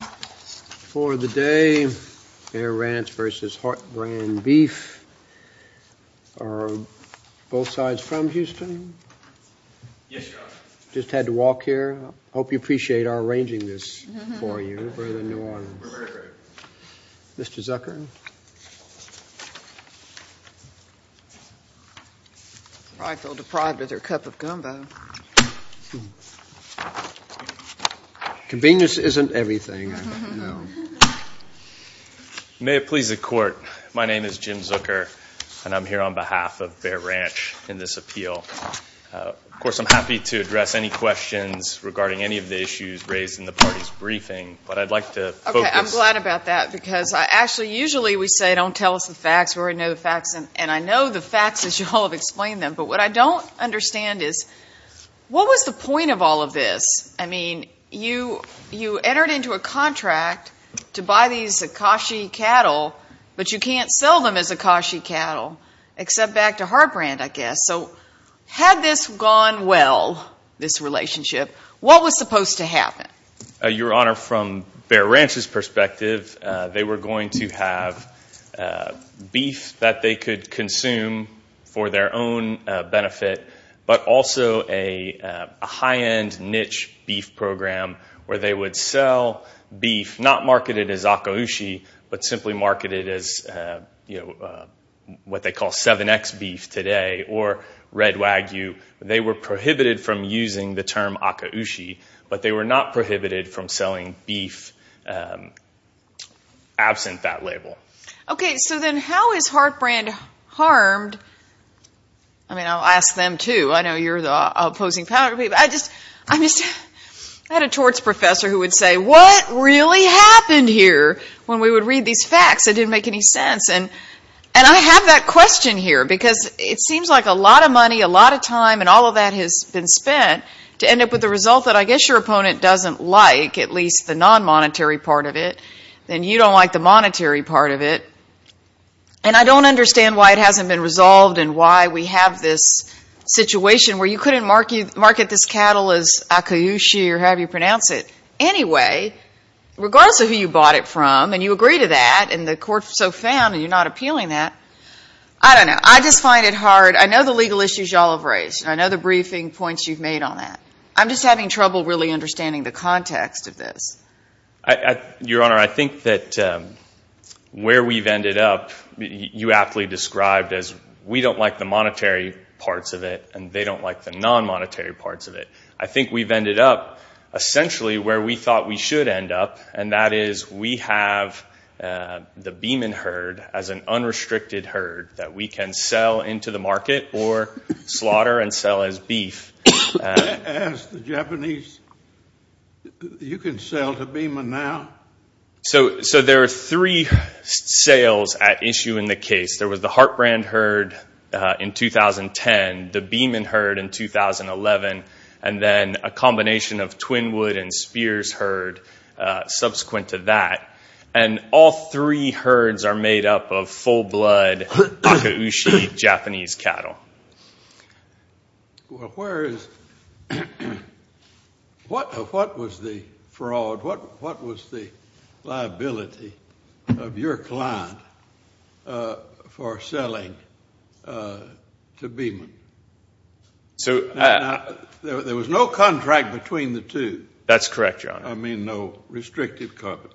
For the day, Air Ranch v. Heartbrand Beef, are both sides from Houston? Yes, Your Honor. Just had to walk here. I hope you appreciate our arranging this for you for the New Orleans. We're very grateful. Mr. Zucker? Probably feel deprived of their cup of gum, though. Convenience isn't everything, I don't know. May it please the Court, my name is Jim Zucker, and I'm here on behalf of Bear Ranch in this appeal. Of course, I'm happy to address any questions regarding any of the issues raised in the party's briefing, but I'd like to focus— Okay, I'm glad about that, because I actually—usually we say, don't tell us the facts, we already know the facts, and I know the facts as you all have explained them, but what I don't understand is, what was the point of all of this? I mean, you entered into a contract to buy these Akashi cattle, but you can't sell them as Akashi cattle, except back to Heartbrand, I guess. So, had this gone well, this relationship, what was supposed to happen? Your Honor, from Bear Ranch's perspective, they were going to have beef that they could consume for their own benefit, but also a high-end niche beef program where they would sell beef not marketed as Akaushi, but simply marketed as, you know, what they call 7X beef today, or red wagyu. They were prohibited from using the term Akaushi, but they were not prohibited from selling beef absent that label. Okay, so then how is Heartbrand harmed? I mean, I'll ask them, too. I know you're the opposing power, but I just—I'm just— I had a torts professor who would say, what really happened here when we would read these facts? It didn't make any sense. And I have that question here, because it seems like a lot of money, a lot of time, and all of that has been spent to end up with the result that I guess your opponent doesn't like, at least the non-monetary part of it, and you don't like the monetary part of it. And I don't understand why it hasn't been resolved and why we have this situation where you couldn't market this cattle as Akaushi or however you pronounce it. Anyway, regardless of who you bought it from and you agree to that and the court so found and you're not appealing that, I don't know. I just find it hard—I know the legal issues you all have raised. I know the briefing points you've made on that. I'm just having trouble really understanding the context of this. Your Honor, I think that where we've ended up, you aptly described as we don't like the monetary parts of it and they don't like the non-monetary parts of it. I think we've ended up essentially where we thought we should end up, and that is we have the Beeman herd as an unrestricted herd that we can sell into the market or slaughter and sell as beef. As the Japanese—you can sell to Beeman now? So there are three sales at issue in the case. There was the Hartbrand herd in 2010, the Beeman herd in 2011, and then a combination of Twinwood and Spears herd subsequent to that. And all three herds are made up of full-blood Akaushi Japanese cattle. Well, where is—what was the fraud, what was the liability of your client for selling to Beeman? There was no contract between the two. I mean no restrictive cover.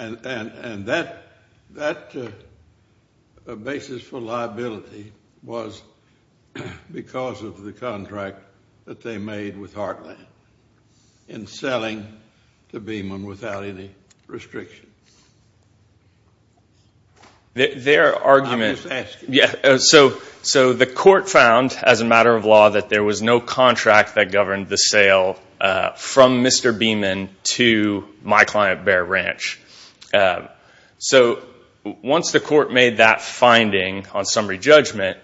And that basis for liability was because of the contract that they made with Hartland in selling to Beeman without any restriction. Their argument— I'm just asking. So the court found as a matter of law that there was no contract that governed the sale from Mr. Beeman to my client Bear Ranch. So once the court made that finding on summary judgment,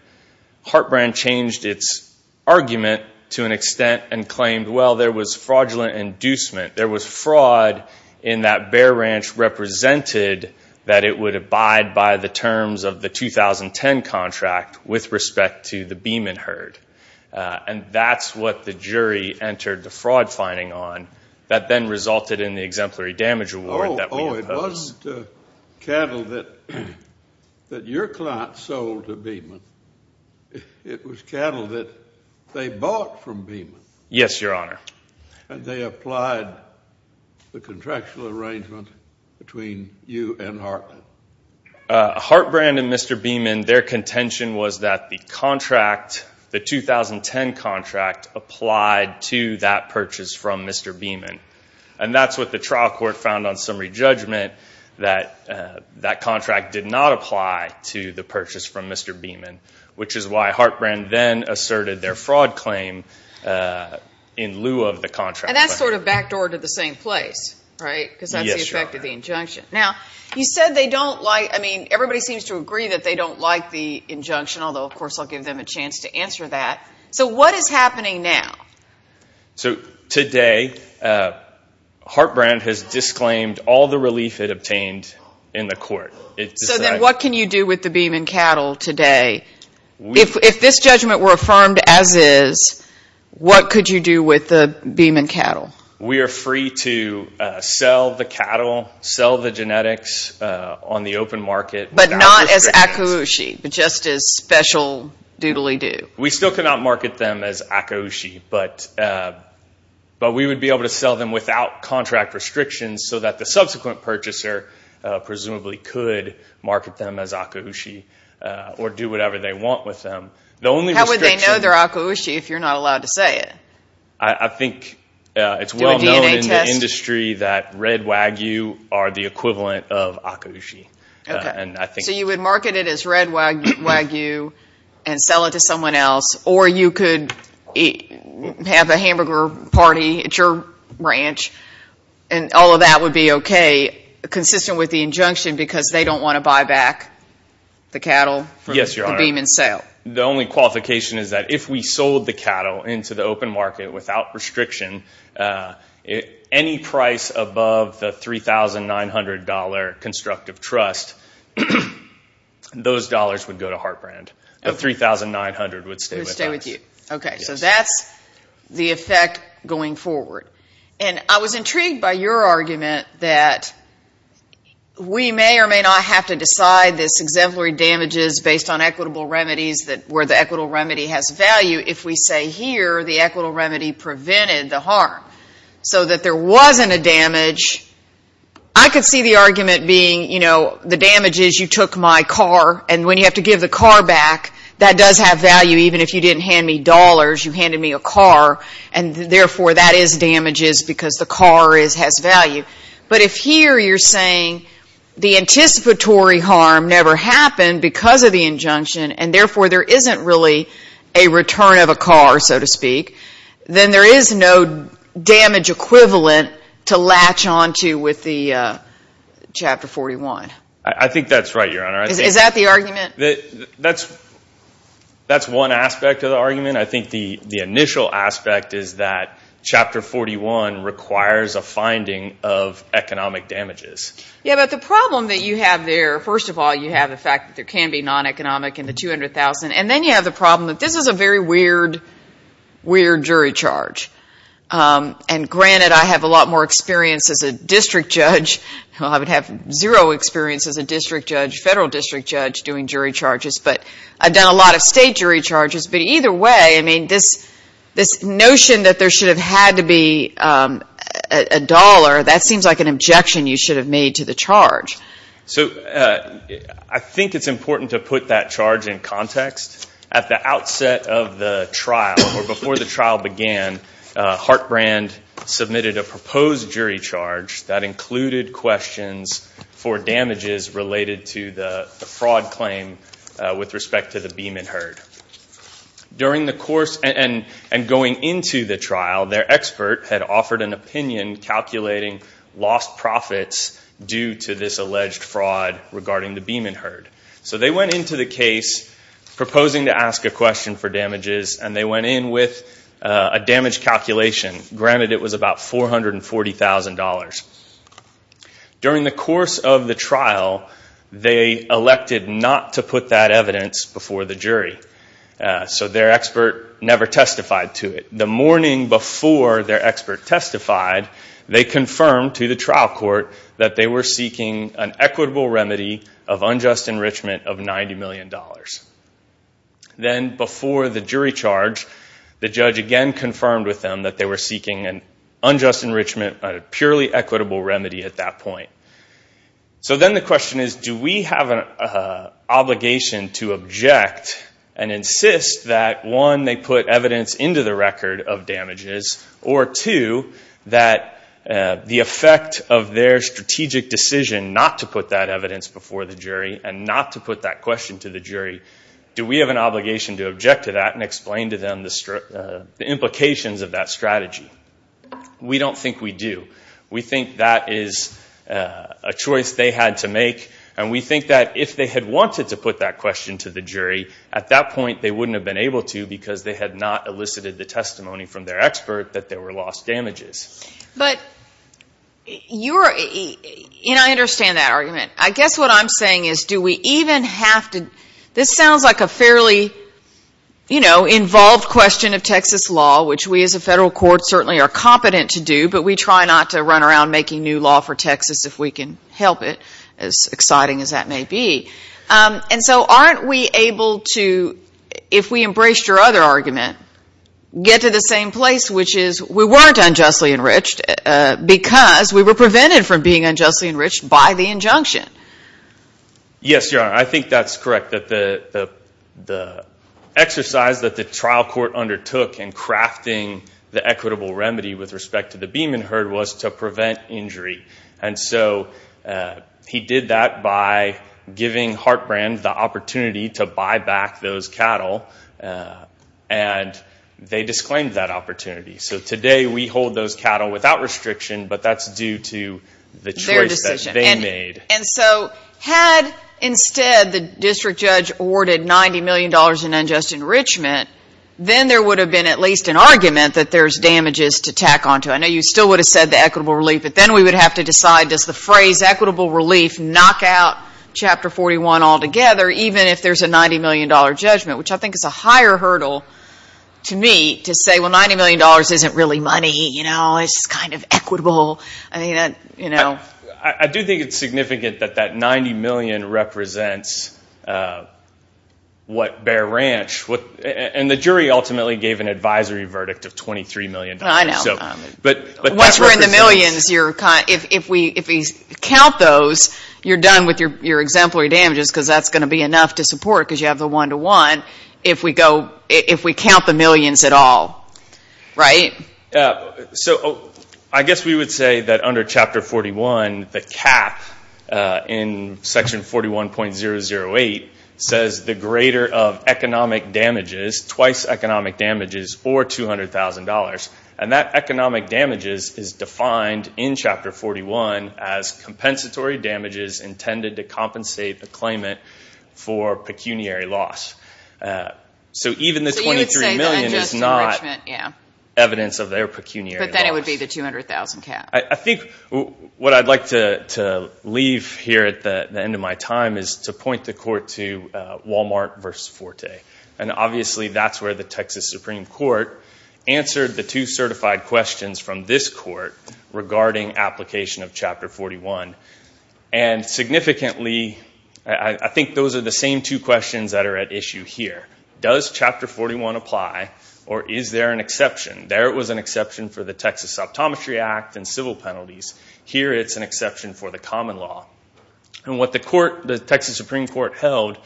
Hartbrand changed its argument to an extent and claimed, well, there was fraudulent inducement. There was fraud in that Bear Ranch represented that it would abide by the terms of the 2010 contract with respect to the Beeman herd. And that's what the jury entered the fraud finding on that then resulted in the exemplary damage award that we opposed. Oh, it wasn't cattle that your client sold to Beeman. It was cattle that they bought from Beeman. Yes, Your Honor. And they applied the contractual arrangement between you and Hartland. Hartbrand and Mr. Beeman, their contention was that the contract, the 2010 contract, applied to that purchase from Mr. Beeman. And that's what the trial court found on summary judgment, that that contract did not apply to the purchase from Mr. Beeman, which is why Hartbrand then asserted their fraud claim in lieu of the contract. And that sort of backdoored to the same place, right, because that's the effect of the injunction. Now, you said they don't like, I mean, everybody seems to agree that they don't like the injunction, although, of course, I'll give them a chance to answer that. So what is happening now? So today Hartbrand has disclaimed all the relief it obtained in the court. So then what can you do with the Beeman cattle today? If this judgment were affirmed as is, what could you do with the Beeman cattle? We are free to sell the cattle, sell the genetics on the open market. But not as Akaushi, but just as special doodly-do. We still cannot market them as Akaushi, but we would be able to sell them without contract restrictions so that the subsequent purchaser presumably could market them as Akaushi or do whatever they want with them. How would they know they're Akaushi if you're not allowed to say it? I think it's well known in the industry that red wagyu are the equivalent of Akaushi. So you would market it as red wagyu and sell it to someone else, or you could have a hamburger party at your ranch, and all of that would be okay consistent with the injunction because they don't want to buy back the cattle from the Beeman sale. Yes, Your Honor. The only qualification is that if we sold the cattle into the open market without restriction, any price above the $3,900 constructive trust, those dollars would go to Hartbrand. The $3,900 would stay with us. Would stay with you. Okay, so that's the effect going forward. And I was intrigued by your argument that we may or may not have to decide this exemplary damages based on equitable remedies where the equitable remedy has value if we say here the equitable remedy prevented the harm so that there wasn't a damage. I could see the argument being, you know, the damage is you took my car, and when you have to give the car back, that does have value. Even if you didn't hand me dollars, you handed me a car, and therefore that is damages because the car has value. But if here you're saying the anticipatory harm never happened because of the injunction and therefore there isn't really a return of a car, so to speak, then there is no damage equivalent to latch onto with the Chapter 41. I think that's right, Your Honor. Is that the argument? That's one aspect of the argument. I think the initial aspect is that Chapter 41 requires a finding of economic damages. Yeah, but the problem that you have there, first of all, you have the fact that there can be non-economic in the $200,000, and then you have the problem that this is a very weird, weird jury charge. And granted, I have a lot more experience as a district judge. I would have zero experience as a district judge, federal district judge, doing jury charges. But I've done a lot of state jury charges. But either way, I mean, this notion that there should have had to be a dollar, that seems like an objection you should have made to the charge. So I think it's important to put that charge in context. At the outset of the trial, or before the trial began, Hart Brand submitted a proposed jury charge that included questions for damages related to the fraud claim with respect to the Beeman herd. During the course and going into the trial, their expert had offered an opinion calculating lost profits due to this alleged fraud regarding the Beeman herd. So they went into the case proposing to ask a question for damages, and they went in with a damage calculation. Granted, it was about $440,000. During the course of the trial, they elected not to put that evidence before the jury. So their expert never testified to it. The morning before their expert testified, they confirmed to the trial court that they were seeking an equitable remedy of unjust enrichment of $90 million. Then before the jury charge, the judge again confirmed with them that they were seeking an unjust enrichment, a purely equitable remedy at that point. So then the question is, do we have an obligation to object and insist that, one, they put evidence into the record of damages, or two, that the effect of their strategic decision not to put that evidence before the jury and not to put that question to the jury, do we have an obligation to object to that and explain to them the implications of that strategy? We don't think we do. We think that is a choice they had to make, and we think that if they had wanted to put that question to the jury, at that point they wouldn't have been able to because they had not elicited the testimony from their expert that there were lost damages. But you're—and I understand that argument. I guess what I'm saying is, do we even have to— this sounds like a fairly, you know, involved question of Texas law, which we as a federal court certainly are competent to do, but we try not to run around making new law for Texas if we can help it, as exciting as that may be. And so aren't we able to, if we embraced your other argument, get to the same place, which is we weren't unjustly enriched because we were prevented from being unjustly enriched by the injunction? Yes, Your Honor, I think that's correct, that the exercise that the trial court undertook in crafting the equitable remedy with respect to the Beeman herd was to prevent injury. And so he did that by giving Hartbrand the opportunity to buy back those cattle, and they disclaimed that opportunity. So today we hold those cattle without restriction, but that's due to the choice that they made. And so had instead the district judge awarded $90 million in unjust enrichment, then there would have been at least an argument that there's damages to tack onto. I know you still would have said the equitable relief, but then we would have to decide does the phrase equitable relief knock out Chapter 41 altogether, even if there's a $90 million judgment, which I think is a higher hurdle to me to say, well, $90 million isn't really money. It's kind of equitable. I do think it's significant that that $90 million represents what Bear Ranch, and the jury ultimately gave an advisory verdict of $23 million. Once we're in the millions, if we count those, you're done with your exemplary damages because that's going to be enough to support, because you have the one-to-one, if we count the millions at all, right? So I guess we would say that under Chapter 41, the cap in Section 41.008 says the greater of economic damages, twice economic damages, or $200,000. And that economic damages is defined in Chapter 41 as compensatory damages intended to compensate the claimant for pecuniary loss. So even the $23 million is not evidence of their pecuniary loss. But then it would be the $200,000 cap. I think what I'd like to leave here at the end of my time is to point the court to Walmart versus Forte. And obviously that's where the Texas Supreme Court answered the two certified questions from this court regarding application of Chapter 41.008. And significantly, I think those are the same two questions that are at issue here. Does Chapter 41.008 apply, or is there an exception? There it was an exception for the Texas Optometry Act and civil penalties. Here it's an exception for the common law. And what the Texas Supreme Court held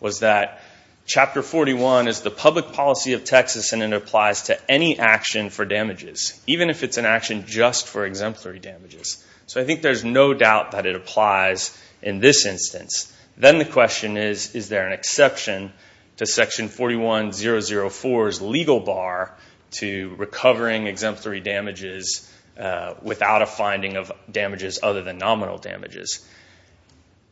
was that Chapter 41.008 is the public policy of Texas, and it applies to any action for damages, even if it's an action just for exemplary damages. So I think there's no doubt that it applies in this instance. Then the question is, is there an exception to Section 41.004's legal bar to recovering exemplary damages without a finding of damages other than nominal damages?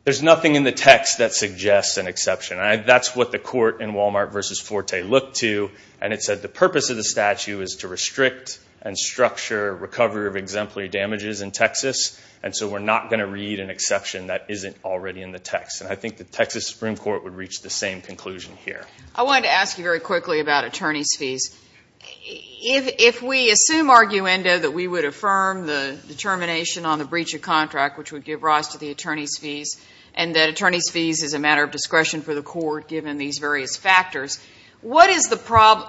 There's nothing in the text that suggests an exception. That's what the court in Walmart versus Forte looked to, and it said the purpose of the statute is to restrict and structure recovery of exemplary damages in Texas, and so we're not going to read an exception that isn't already in the text. And I think the Texas Supreme Court would reach the same conclusion here. I wanted to ask you very quickly about attorney's fees. If we assume arguendo that we would affirm the determination on the breach of contract, which would give rise to the attorney's fees, and that attorney's fees is a matter of discretion for the court given these various factors, what is the problem?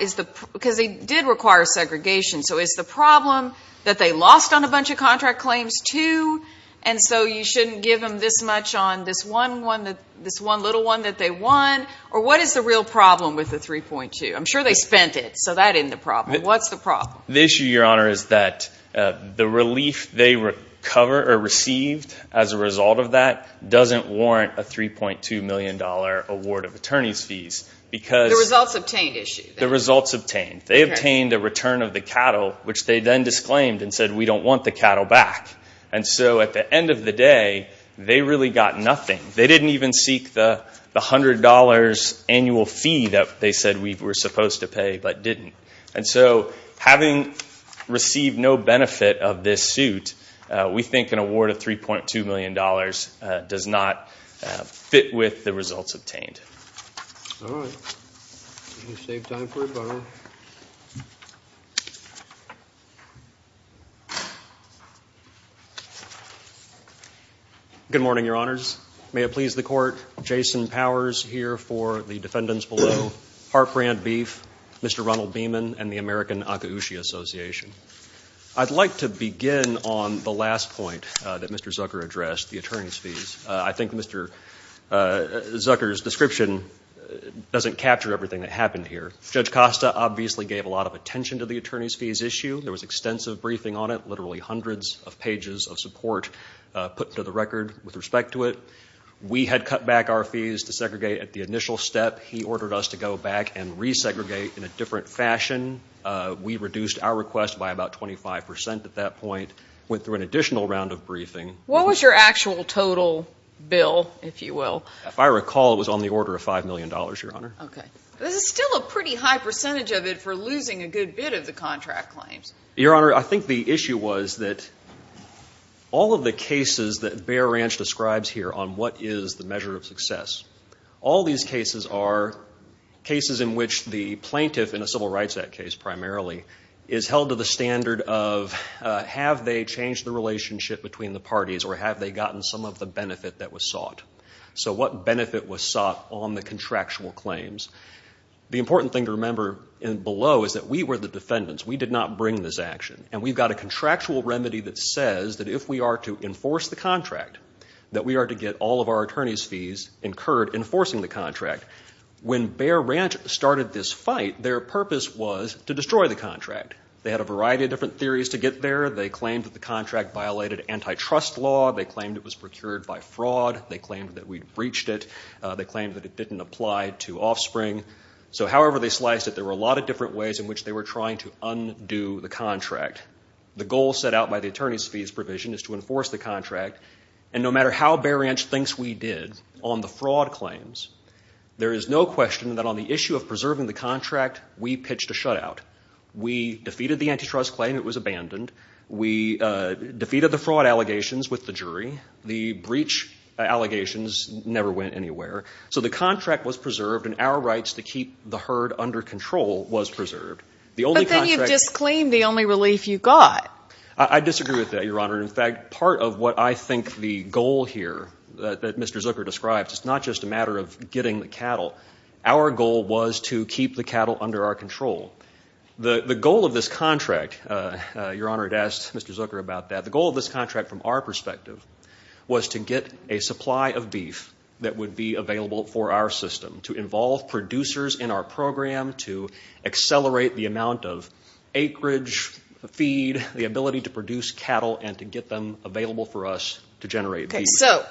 Because they did require segregation. So is the problem that they lost on a bunch of contract claims too, and so you shouldn't give them this much on this one little one that they won? Or what is the real problem with the 3.2? I'm sure they spent it, so that isn't the problem. What's the problem? The issue, Your Honor, is that the relief they received as a result of that doesn't warrant a $3.2 million award of attorney's fees. The results obtained issue. The results obtained. They obtained a return of the cattle, which they then disclaimed and said we don't want the cattle back. And so at the end of the day, they really got nothing. They didn't even seek the $100 annual fee that they said we were supposed to pay but didn't. And so having received no benefit of this suit, we think an award of $3.2 million does not fit with the results obtained. All right. We'll save time for a photo. Good morning, Your Honors. May it please the Court, Jason Powers here for the defendants below, Hart Brand Beef, Mr. Ronald Beeman, and the American Akaushi Association. I'd like to begin on the last point that Mr. Zucker addressed, the attorney's fees. I think Mr. Zucker's description doesn't capture everything that happened here. Judge Costa obviously gave a lot of attention to the attorney's fees issue. There was extensive briefing on it, literally hundreds of pages of support put to the record with respect to it. We had cut back our fees to segregate at the initial step. He ordered us to go back and resegregate in a different fashion. We reduced our request by about 25 percent at that point, went through an additional round of briefing. What was your actual total bill, if you will? If I recall, it was on the order of $5 million, Your Honor. Okay. This is still a pretty high percentage of it for losing a good bit of the contract claims. Your Honor, I think the issue was that all of the cases that Bear Ranch describes here on what is the measure of success, all these cases are cases in which the plaintiff, in a civil rights act case primarily, is held to the standard of have they changed the relationship between the parties or have they gotten some of the benefit that was sought. What benefit was sought on the contractual claims? The important thing to remember below is that we were the defendants. We did not bring this action. We've got a contractual remedy that says that if we are to enforce the contract, that we are to get all of our attorney's fees incurred enforcing the contract. When Bear Ranch started this fight, their purpose was to destroy the contract. They had a variety of different theories to get there. They claimed that the contract violated antitrust law. They claimed it was procured by fraud. They claimed that we'd breached it. They claimed that it didn't apply to offspring. So however they sliced it, there were a lot of different ways in which they were trying to undo the contract. The goal set out by the attorney's fees provision is to enforce the contract, and no matter how Bear Ranch thinks we did on the fraud claims, there is no question that on the issue of preserving the contract, we pitched a shutout. We defeated the antitrust claim. It was abandoned. We defeated the fraud allegations with the jury. The breach allegations never went anywhere. So the contract was preserved, and our rights to keep the herd under control was preserved. But then you've just claimed the only relief you got. I disagree with that, Your Honor. In fact, part of what I think the goal here that Mr. Zucker described, it's not just a matter of getting the cattle. Our goal was to keep the cattle under our control. The goal of this contract, Your Honor, had asked Mr. Zucker about that. The goal of this contract from our perspective was to get a supply of beef that would be available for our system, to involve producers in our program, to accelerate the amount of acreage feed, the ability to produce cattle, and to get them available for us to generate beef. So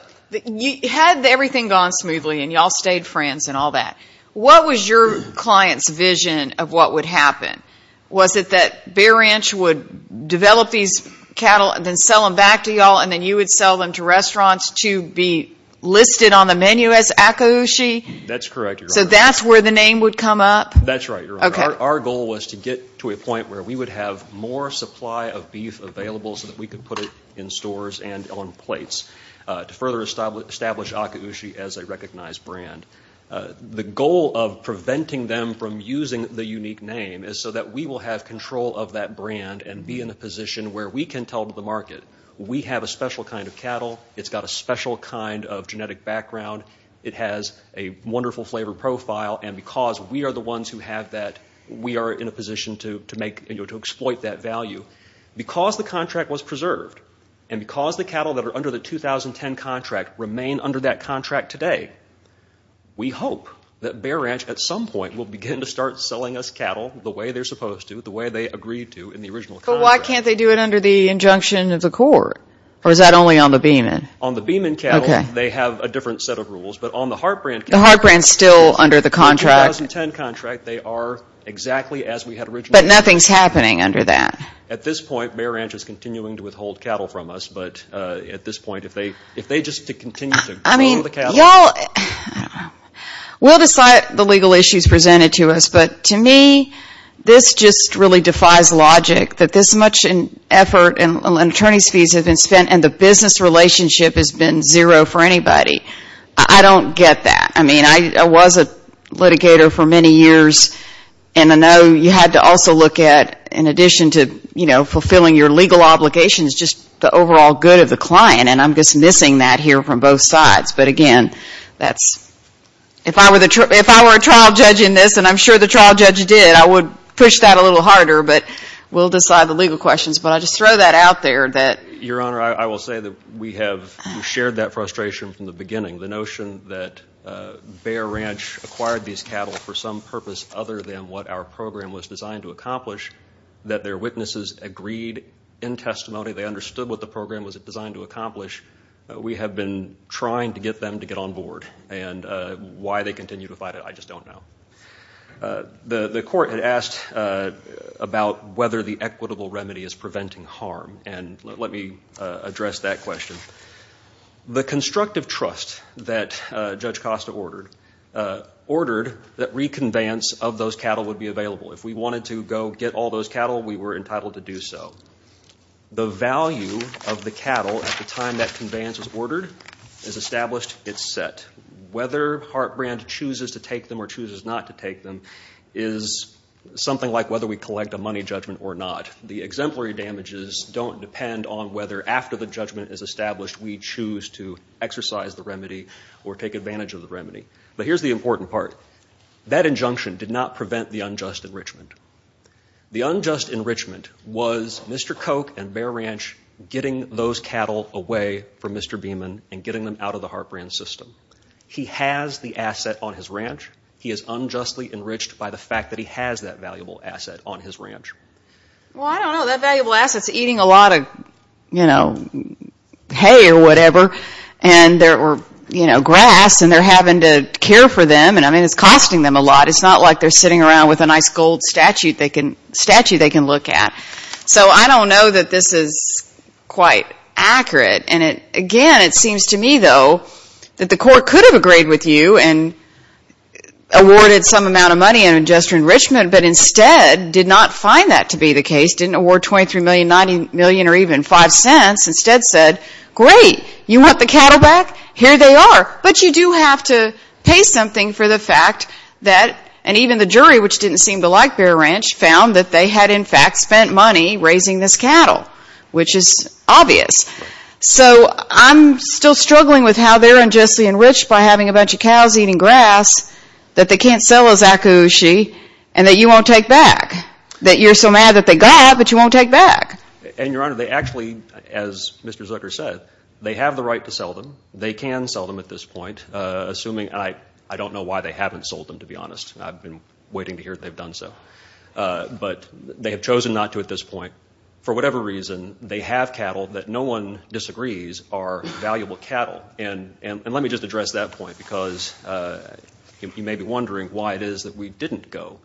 had everything gone smoothly and you all stayed friends and all that, what was your client's vision of what would happen? Was it that Bear Ranch would develop these cattle and then sell them back to you all, and then you would sell them to restaurants to be listed on the menu as Akaushi? That's correct, Your Honor. So that's where the name would come up? That's right, Your Honor. Our goal was to get to a point where we would have more supply of beef available so that we could put it in stores and on plates to further establish Akaushi as a recognized brand. The goal of preventing them from using the unique name is so that we will have control of that brand and be in a position where we can tell the market we have a special kind of cattle. It's got a special kind of genetic background. It has a wonderful flavor profile. And because we are the ones who have that, we are in a position to exploit that value. Because the contract was preserved, and because the cattle that are under the 2010 contract remain under that contract today, we hope that Bear Ranch at some point will begin to start selling us cattle the way they're supposed to, the way they agreed to in the original contract. But why can't they do it under the injunction of the court? Or is that only on the Beeman? On the Beeman cattle, they have a different set of rules. But on the Hart Brand cattle, under the 2010 contract, they are exactly as we had originally intended. But nothing's happening under that. At this point, Bear Ranch is continuing to withhold cattle from us. But at this point, if they just continue to grow the cattle. We'll decide the legal issues presented to us. But to me, this just really defies logic, that this much effort and attorney's fees have been spent and the business relationship has been zero for anybody. I don't get that. I mean, I was a litigator for many years. And I know you had to also look at, in addition to fulfilling your legal obligations, just the overall good of the client. And I'm just missing that here from both sides. But again, if I were a trial judge in this, and I'm sure the trial judge did, I would push that a little harder. But we'll decide the legal questions. But I'll just throw that out there. Your Honor, I will say that we have shared that frustration from the beginning. The notion that Bear Ranch acquired these cattle for some purpose other than what our program was designed to accomplish, that their witnesses agreed in testimony they understood what the program was designed to accomplish. We have been trying to get them to get on board. And why they continue to fight it, I just don't know. The court had asked about whether the equitable remedy is preventing harm, and let me address that question. The constructive trust that Judge Costa ordered, ordered that reconveyance of those cattle would be available. If we wanted to go get all those cattle, we were entitled to do so. The value of the cattle at the time that conveyance was ordered is established, it's set. Whether Hart Brand chooses to take them or chooses not to take them is something like whether we collect a money judgment or not. The exemplary damages don't depend on whether after the judgment is established we choose to exercise the remedy or take advantage of the remedy. But here's the important part. That injunction did not prevent the unjust enrichment. The unjust enrichment was Mr. Koch and Bear Ranch getting those cattle away from Mr. Beeman and getting them out of the Hart Brand system. He has the asset on his ranch. He is unjustly enriched by the fact that he has that valuable asset on his ranch. Well, I don't know. That valuable asset is eating a lot of hay or whatever, or grass, and they're having to care for them. I mean, it's costing them a lot. It's not like they're sitting around with a nice gold statue they can look at. So I don't know that this is quite accurate. And, again, it seems to me, though, that the court could have agreed with you and awarded some amount of money on unjust enrichment, but instead did not find that to be the case, didn't award $23 million, $90 million, or even $0.05. Instead said, great, you want the cattle back? Here they are. But you do have to pay something for the fact that, and even the jury, which didn't seem to like Bear Ranch, found that they had, in fact, spent money raising this cattle, which is obvious. So I'm still struggling with how they're unjustly enriched by having a bunch of cows eating grass that they can't sell as akushi and that you won't take back, that you're so mad that they got it but you won't take back. And, Your Honor, they actually, as Mr. Zucker said, they have the right to sell them. They can sell them at this point, assuming, and I don't know why they haven't sold them, to be honest. I've been waiting to hear that they've done so. But they have chosen not to at this point. For whatever reason, they have cattle that no one disagrees are valuable cattle. And let me just address that point because you may be wondering why it is that we didn't go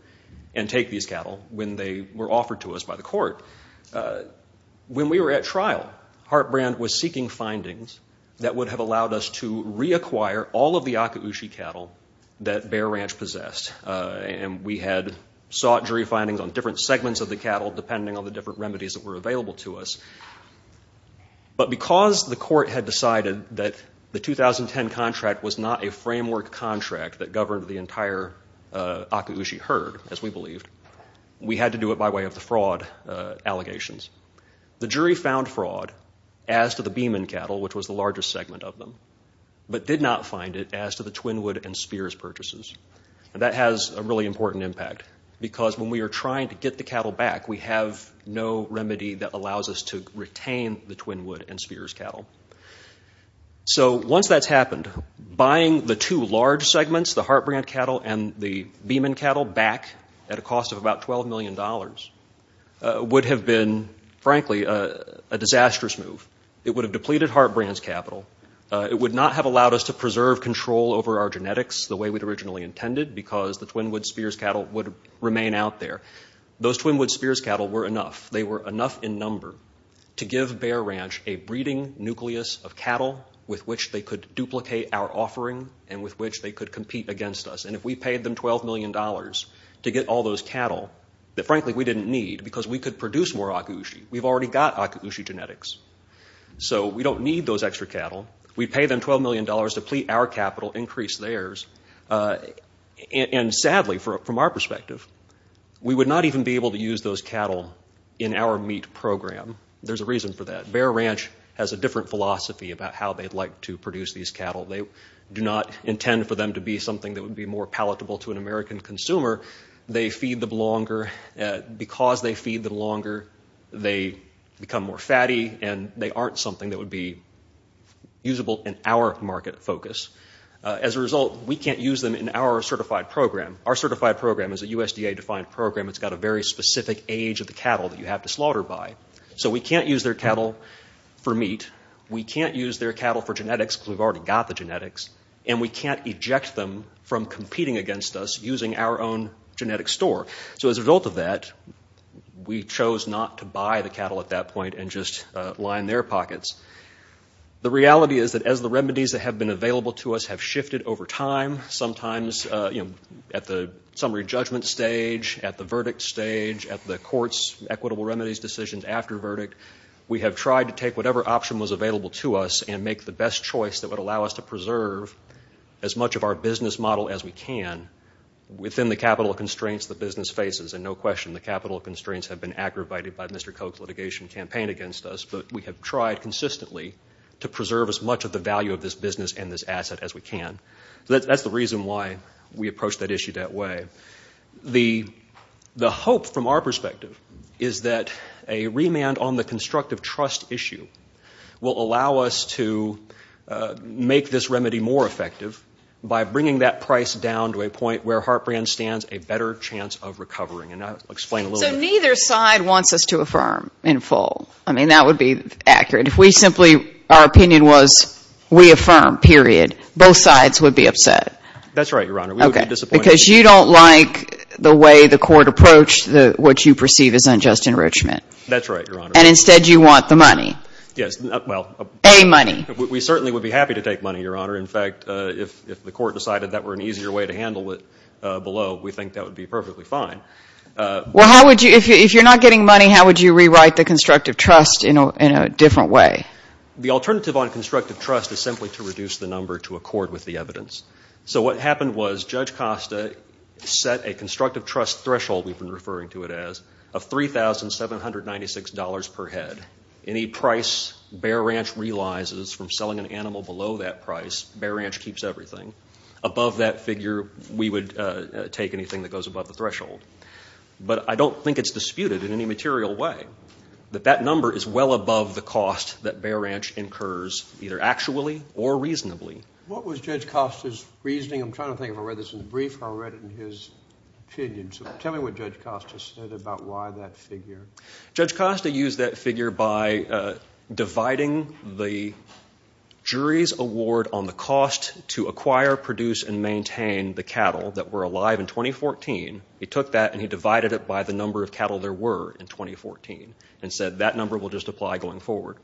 and take these cattle when they were offered to us by the court. When we were at trial, Hart Brand was seeking findings that would have allowed us to reacquire all of the And we had sought jury findings on different segments of the cattle, depending on the different remedies that were available to us. But because the court had decided that the 2010 contract was not a framework contract that governed the entire akushi herd, as we believed, we had to do it by way of the fraud allegations. The jury found fraud as to the Beeman cattle, which was the largest segment of them, but did not find it as to the Twinwood and Spears purchases. And that has a really important impact because when we are trying to get the cattle back, we have no remedy that allows us to retain the Twinwood and Spears cattle. So once that's happened, buying the two large segments, the Hart Brand cattle and the Beeman cattle, back at a cost of about $12 million would have been, frankly, a disastrous move. It would have depleted Hart Brand's capital. It would not have allowed us to preserve control over our genetics the way we'd originally intended because the Twinwood and Spears cattle would remain out there. Those Twinwood and Spears cattle were enough. They were enough in number to give Bear Ranch a breeding nucleus of cattle with which they could duplicate our offering and with which they could compete against us. And if we paid them $12 million to get all those cattle that, frankly, we didn't need because we could produce more akushi, we've already got akushi genetics. So we don't need those extra cattle. We'd pay them $12 million, deplete our capital, increase theirs. And sadly, from our perspective, we would not even be able to use those cattle in our meat program. There's a reason for that. Bear Ranch has a different philosophy about how they'd like to produce these cattle. They do not intend for them to be something that would be more palatable to an American consumer. They feed them longer. Because they feed them longer, they become more fatty, and they aren't something that would be usable in our market focus. As a result, we can't use them in our certified program. Our certified program is a USDA-defined program. It's got a very specific age of the cattle that you have to slaughter by. So we can't use their cattle for meat. We can't use their cattle for genetics because we've already got the genetics. And we can't eject them from competing against us using our own genetic store. So as a result of that, we chose not to buy the cattle at that point and just line their pockets. The reality is that as the remedies that have been available to us have shifted over time, sometimes at the summary judgment stage, at the verdict stage, at the court's equitable remedies decisions after verdict, we have tried to take whatever option was available to us and make the best choice that would allow us to preserve as much of our business model as we can within the capital constraints the business faces. And no question, the capital constraints have been aggravated by Mr. Koch's litigation campaign against us, but we have tried consistently to preserve as much of the value of this business and this asset as we can. So that's the reason why we approached that issue that way. The hope from our perspective is that a remand on the constructive trust issue will allow us to make this remedy more effective by bringing that price down to a point where Hartbrand stands a better chance of recovering. And I'll explain a little bit. So neither side wants us to affirm in full. I mean, that would be accurate. If we simply, our opinion was we affirm, period, both sides would be upset. That's right, Your Honor. We would be disappointed. Because you don't like the way the court approached what you perceive as unjust enrichment. That's right, Your Honor. And instead you want the money. Yes, well. A money. We certainly would be happy to take money, Your Honor. In fact, if the court decided that were an easier way to handle it below, we think that would be perfectly fine. Well, how would you, if you're not getting money, how would you rewrite the constructive trust in a different way? The alternative on constructive trust is simply to reduce the number to accord with the evidence. So what happened was Judge Costa set a constructive trust threshold, we've been referring to it as, of $3,796 per head. Any price Bear Ranch realizes from selling an animal below that price, Bear Ranch keeps everything. Above that figure, we would take anything that goes above the threshold. But I don't think it's disputed in any material way that that number is well above the cost that Bear Ranch incurs either actually or reasonably. What was Judge Costa's reasoning? I'm trying to think if I read this in the brief or I read it in his opinion. Tell me what Judge Costa said about why that figure. Judge Costa used that figure by dividing the jury's award on the cost to acquire, produce, and maintain the cattle that were alive in 2014. He took that and he divided it by the number of cattle there were in 2014 and said that number will just apply going forward.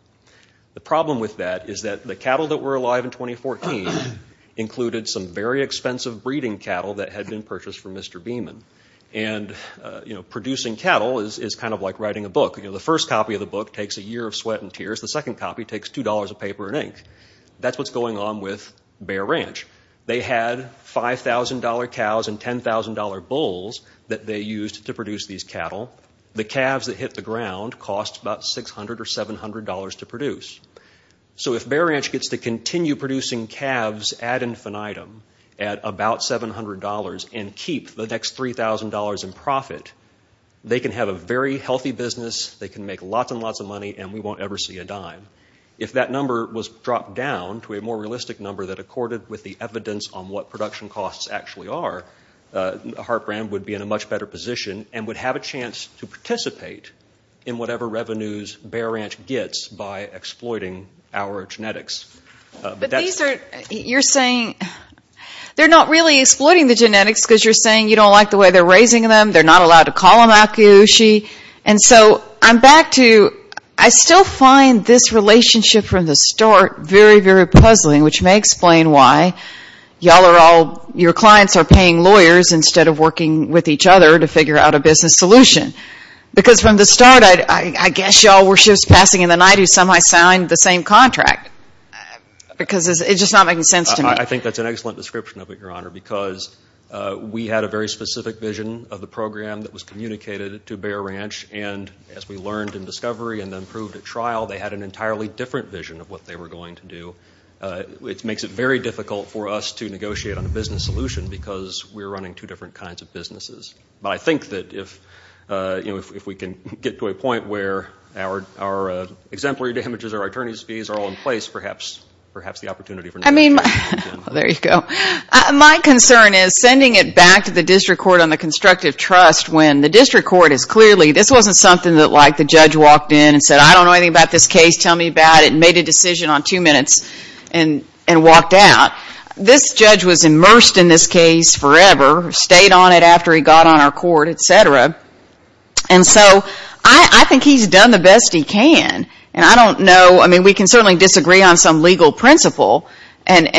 The problem with that is that the cattle that were alive in 2014 included some very expensive breeding cattle that had been purchased from Mr. Beeman. Producing cattle is kind of like writing a book. The first copy of the book takes a year of sweat and tears. The second copy takes $2 of paper and ink. That's what's going on with Bear Ranch. They had $5,000 cows and $10,000 bulls that they used to produce these cattle. The calves that hit the ground cost about $600 or $700 to produce. So if Bear Ranch gets to continue producing calves ad infinitum at about $700 and keep the next $3,000 in profit, they can have a very healthy business, they can make lots and lots of money, and we won't ever see a dime. If that number was dropped down to a more realistic number that accorded with the evidence on what production costs actually are, Hart Brand would be in a much better position and would have a chance to participate in whatever revenues Bear Ranch gets by exploiting our genetics. But these are, you're saying, they're not really exploiting the genetics because you're saying you don't like the way they're raising them, they're not allowed to call them akiyoshi. And so I'm back to, I still find this relationship from the start very, very puzzling, which may explain why y'all are all, your clients are paying lawyers instead of working with each other to figure out a business solution. Because from the start, I guess y'all were shifts passing in the night who somehow signed the same contract, because it's just not making sense to me. I think that's an excellent description of it, Your Honor, because we had a very specific vision of the program that was communicated to Bear Ranch, and as we learned in discovery and then proved at trial, they had an entirely different vision of what they were going to do, which makes it very difficult for us to negotiate on a business solution because we're running two different kinds of businesses. But I think that if we can get to a point where our exemplary damages, our attorney's fees are all in place, perhaps the opportunity for negotiation can begin. I mean, there you go. My concern is sending it back to the district court on the constructive trust when the district court is clearly, this wasn't something that like the judge walked in and said, I don't know anything about this case, tell me about it, and made a decision on two minutes and walked out. This judge was immersed in this case forever, stayed on it after he got on our court, et cetera, and so I think he's done the best he can. And I don't know, I mean, we can certainly disagree on some legal principle and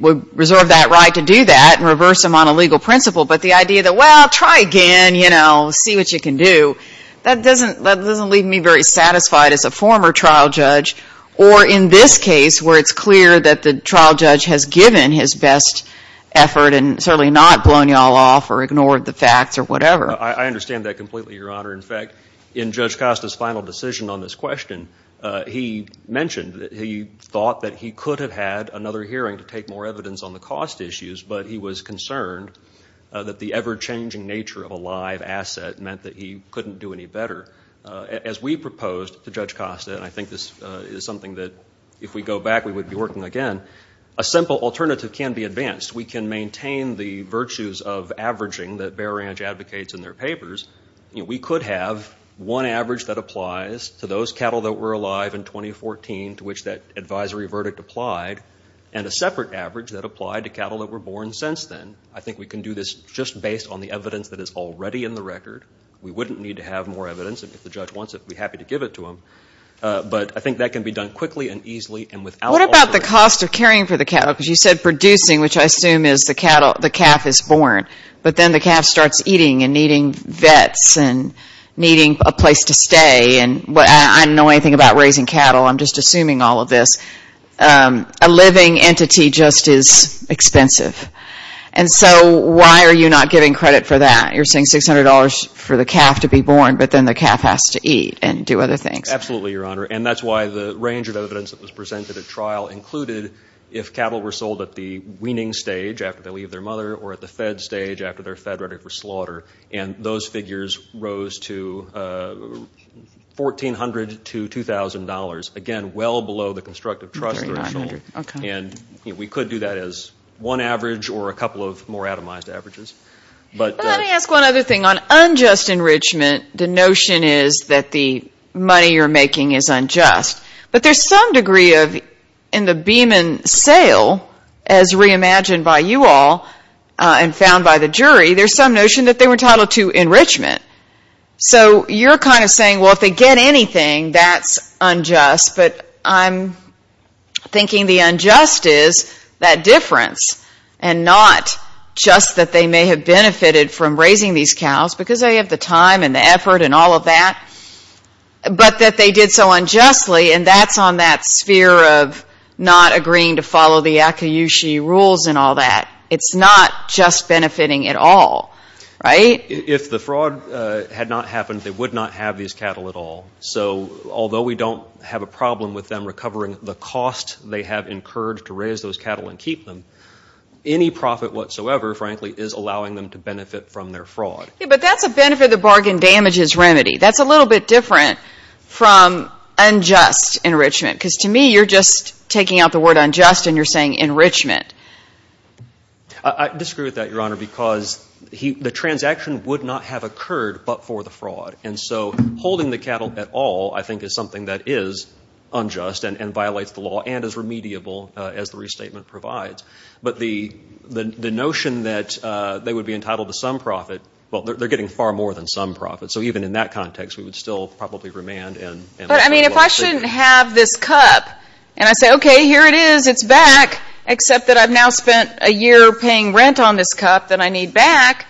reserve that right to do that and reverse them on a legal principle, but the idea that, well, try again, you know, see what you can do, that doesn't leave me very satisfied as a former trial judge, or in this case where it's clear that the trial judge has given his best effort and certainly not blown you all off or ignored the facts or whatever. I understand that completely, Your Honor. In fact, in Judge Costa's final decision on this question, he mentioned that he thought that he could have had another hearing to take more evidence on the cost issues, but he was concerned that the ever-changing nature of a live asset meant that he couldn't do any better. As we proposed to Judge Costa, and I think this is something that if we go back we would be working again, a simple alternative can be advanced. We can maintain the virtues of averaging that Bear Ranch advocates in their papers. We could have one average that applies to those cattle that were alive in 2014, to which that advisory verdict applied, and a separate average that applied to cattle that were born since then. I think we can do this just based on the evidence that is already in the record. We wouldn't need to have more evidence. If the judge wants it, we'd be happy to give it to him. But I think that can be done quickly and easily. What about the cost of caring for the cattle? Because you said producing, which I assume is the calf is born, but then the calf starts eating and needing vets and needing a place to stay. I don't know anything about raising cattle. I'm just assuming all of this. A living entity just is expensive. And so why are you not giving credit for that? You're saying $600 for the calf to be born, but then the calf has to eat and do other things. Absolutely, Your Honor. And that's why the range of evidence that was presented at trial included if cattle were sold at the weaning stage after they leave their mother or at the fed stage after they're fed ready for slaughter. And those figures rose to $1,400 to $2,000. Again, well below the constructive trust threshold. And we could do that as one average or a couple of more atomized averages. Let me ask one other thing. On unjust enrichment, the notion is that the money you're making is unjust. But there's some degree of, in the Beeman sale, as reimagined by you all and found by the jury, there's some notion that they were entitled to enrichment. So you're kind of saying, well, if they get anything, that's unjust. But I'm thinking the unjust is that difference and not just that they may have benefited from raising these cows because they have the time and the effort and all of that, but that they did so unjustly, and that's on that sphere of not agreeing to follow the Akiyushi rules and all that. It's not just benefiting at all, right? If the fraud had not happened, they would not have these cattle at all. So although we don't have a problem with them recovering the cost they have incurred to raise those cattle and keep them, any profit whatsoever, frankly, is allowing them to benefit from their fraud. Yeah, but that's a benefit-of-the-bargain-damages remedy. That's a little bit different from unjust enrichment because, to me, you're just taking out the word unjust and you're saying enrichment. I disagree with that, Your Honor, because the transaction would not have occurred but for the fraud. And so holding the cattle at all, I think, is something that is unjust and violates the law and is remediable, as the restatement provides. But the notion that they would be entitled to some profit, well, they're getting far more than some profit. So even in that context, we would still probably remand. But, I mean, if I shouldn't have this cup and I say, okay, here it is, it's back, except that I've now spent a year paying rent on this cup that I need back,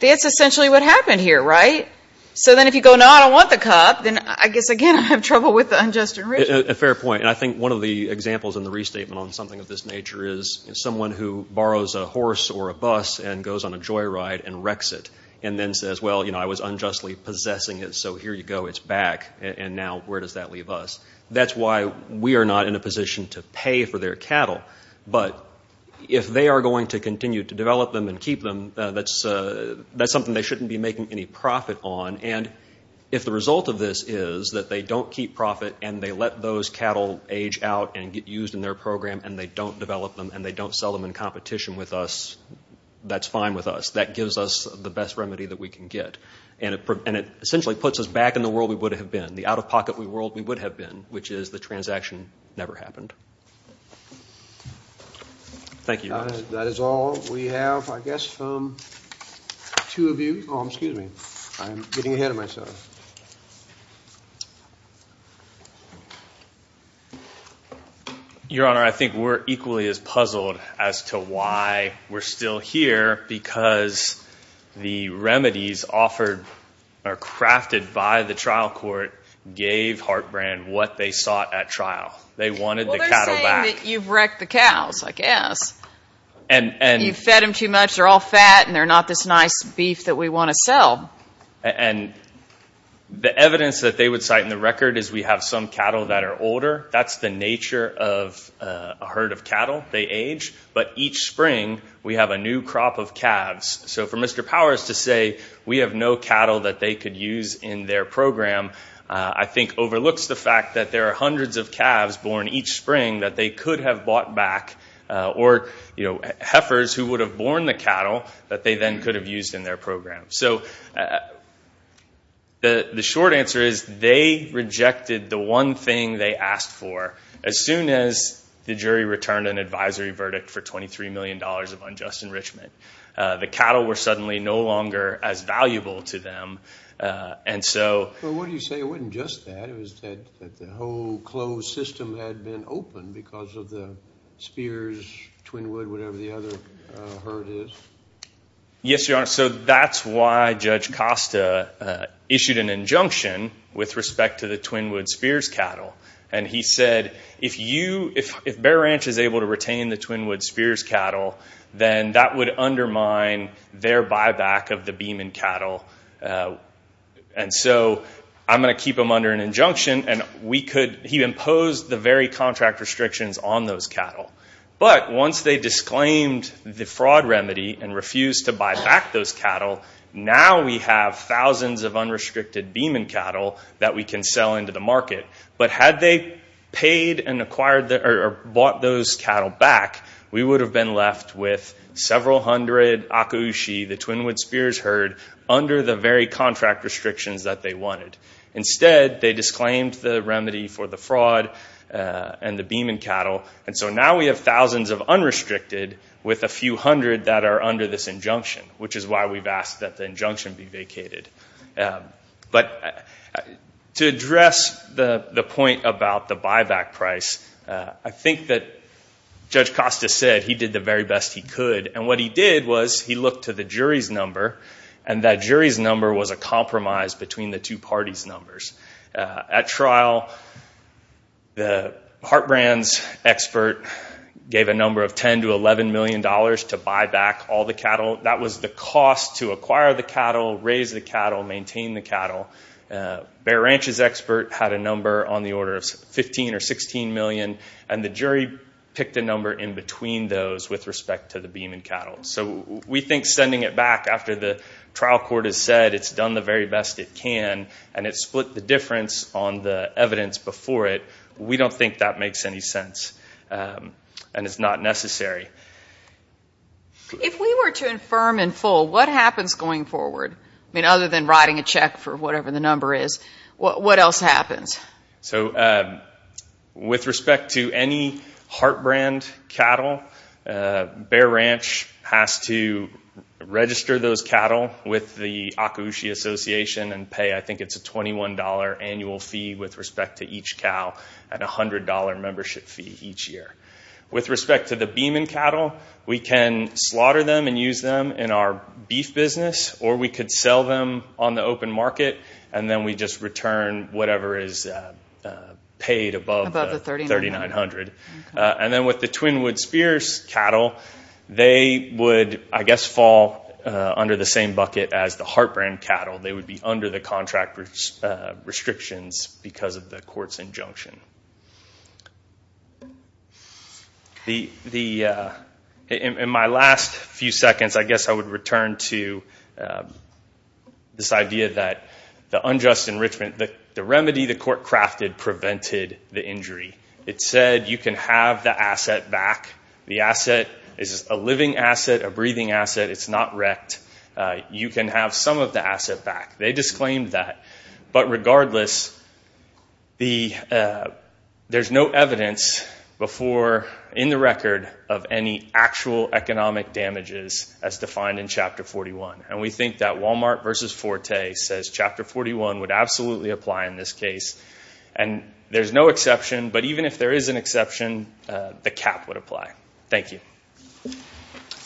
that's essentially what happened here, right? So then if you go, no, I don't want the cup, then I guess, again, I have trouble with the unjust enrichment. A fair point. And I think one of the examples in the restatement on something of this nature is someone who borrows a horse or a bus and goes on a joyride and wrecks it and then says, well, you know, I was unjustly possessing it, so here you go, it's back. And now where does that leave us? That's why we are not in a position to pay for their cattle. But if they are going to continue to develop them and keep them, that's something they shouldn't be making any profit on. And if the result of this is that they don't keep profit and they let those cattle age out and get used in their program and they don't develop them and they don't sell them in competition with us, that's fine with us. That gives us the best remedy that we can get. And it essentially puts us back in the world we would have been, the out-of-pocket world we would have been, which is the transaction never happened. Thank you. That is all we have, I guess, from two of you. Oh, excuse me. I'm getting ahead of myself. Your Honor, I think we're equally as puzzled as to why we're still here because the remedies offered or crafted by the trial court gave Hartbrand what they sought at trial. They wanted the cattle back. You've wrecked the cows, I guess. You've fed them too much. They're all fat and they're not this nice beef that we want to sell. And the evidence that they would cite in the record is we have some cattle that are older. That's the nature of a herd of cattle. They age. But each spring we have a new crop of calves. So for Mr. Powers to say we have no cattle that they could use in their program, I think overlooks the fact that there are hundreds of calves born each spring that they could have bought back or heifers who would have born the cattle that they then could have used in their program. So the short answer is they rejected the one thing they asked for as soon as the jury returned an advisory verdict for $23 million of unjust enrichment. The cattle were suddenly no longer as valuable to them. Well, what do you say? It wasn't just that. It was that the whole closed system had been open because of the Spears, Twinwood, whatever the other herd is. Yes, Your Honor. So that's why Judge Costa issued an injunction with respect to the Twinwood Spears cattle. And he said, if Bear Ranch is able to retain the Twinwood Spears cattle, then that would undermine their buyback of the Beeman cattle. And so I'm going to keep them under an injunction. And he imposed the very contract restrictions on those cattle. But once they disclaimed the fraud remedy and refused to buy back those cattle, now we have thousands of unrestricted Beeman cattle that we can sell into the market. But had they paid and acquired or bought those cattle back, we would have been left with several hundred Akaushi, the Twinwood Spears herd, under the very contract restrictions that they wanted. Instead, they disclaimed the remedy for the fraud and the Beeman cattle. And so now we have thousands of unrestricted with a few hundred that are under this injunction, which is why we've asked that the injunction be vacated. But to address the point about the buyback price, I think that Judge Costa said he did the very best he could. And what he did was he looked to the jury's number, and that jury's number was a compromise between the two parties' numbers. At trial, the Hart Brands expert gave a number of $10 to $11 million to buy back all the cattle. That was the cost to acquire the cattle, raise the cattle, maintain the cattle. Bear Ranch's expert had a number on the order of $15 or $16 million, and the jury picked a number in between those with respect to the Beeman cattle. So we think sending it back after the trial court has said it's done the very best it can and it's split the difference on the evidence before it, we don't think that makes any sense and is not necessary. If we were to infirm in full, what happens going forward? I mean, other than writing a check for whatever the number is, what else happens? So with respect to any Hart Brand cattle, Bear Ranch has to register those cattle with the Akaushi Association and pay, I think it's a $21 annual fee with respect to each cow, and a $100 membership fee each year. With respect to the Beeman cattle, we can slaughter them and use them in our beef business, or we could sell them on the open market and then we just return whatever is paid above the $3,900. And then with the Twinwood Spears cattle, they would, I guess, fall under the same bucket as the Hart Brand cattle. They would be under the contract restrictions because of the court's injunction. In my last few seconds, I guess I would return to this idea that the unjust enrichment, the remedy the court crafted prevented the injury. It said you can have the asset back. The asset is a living asset, a breathing asset. It's not wrecked. You can have some of the asset back. They disclaimed that. But regardless, there's no evidence in the record of any actual economic damages as defined in Chapter 41. And we think that Walmart versus Forte says Chapter 41 would absolutely apply in this case. And there's no exception, but even if there is an exception, the cap would apply. Thank you.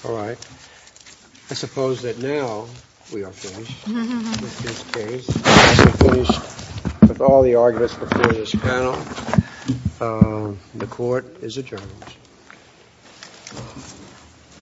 All right. I suppose that now we are finished with this case. We're finished with all the arguments before this panel. The court is adjourned.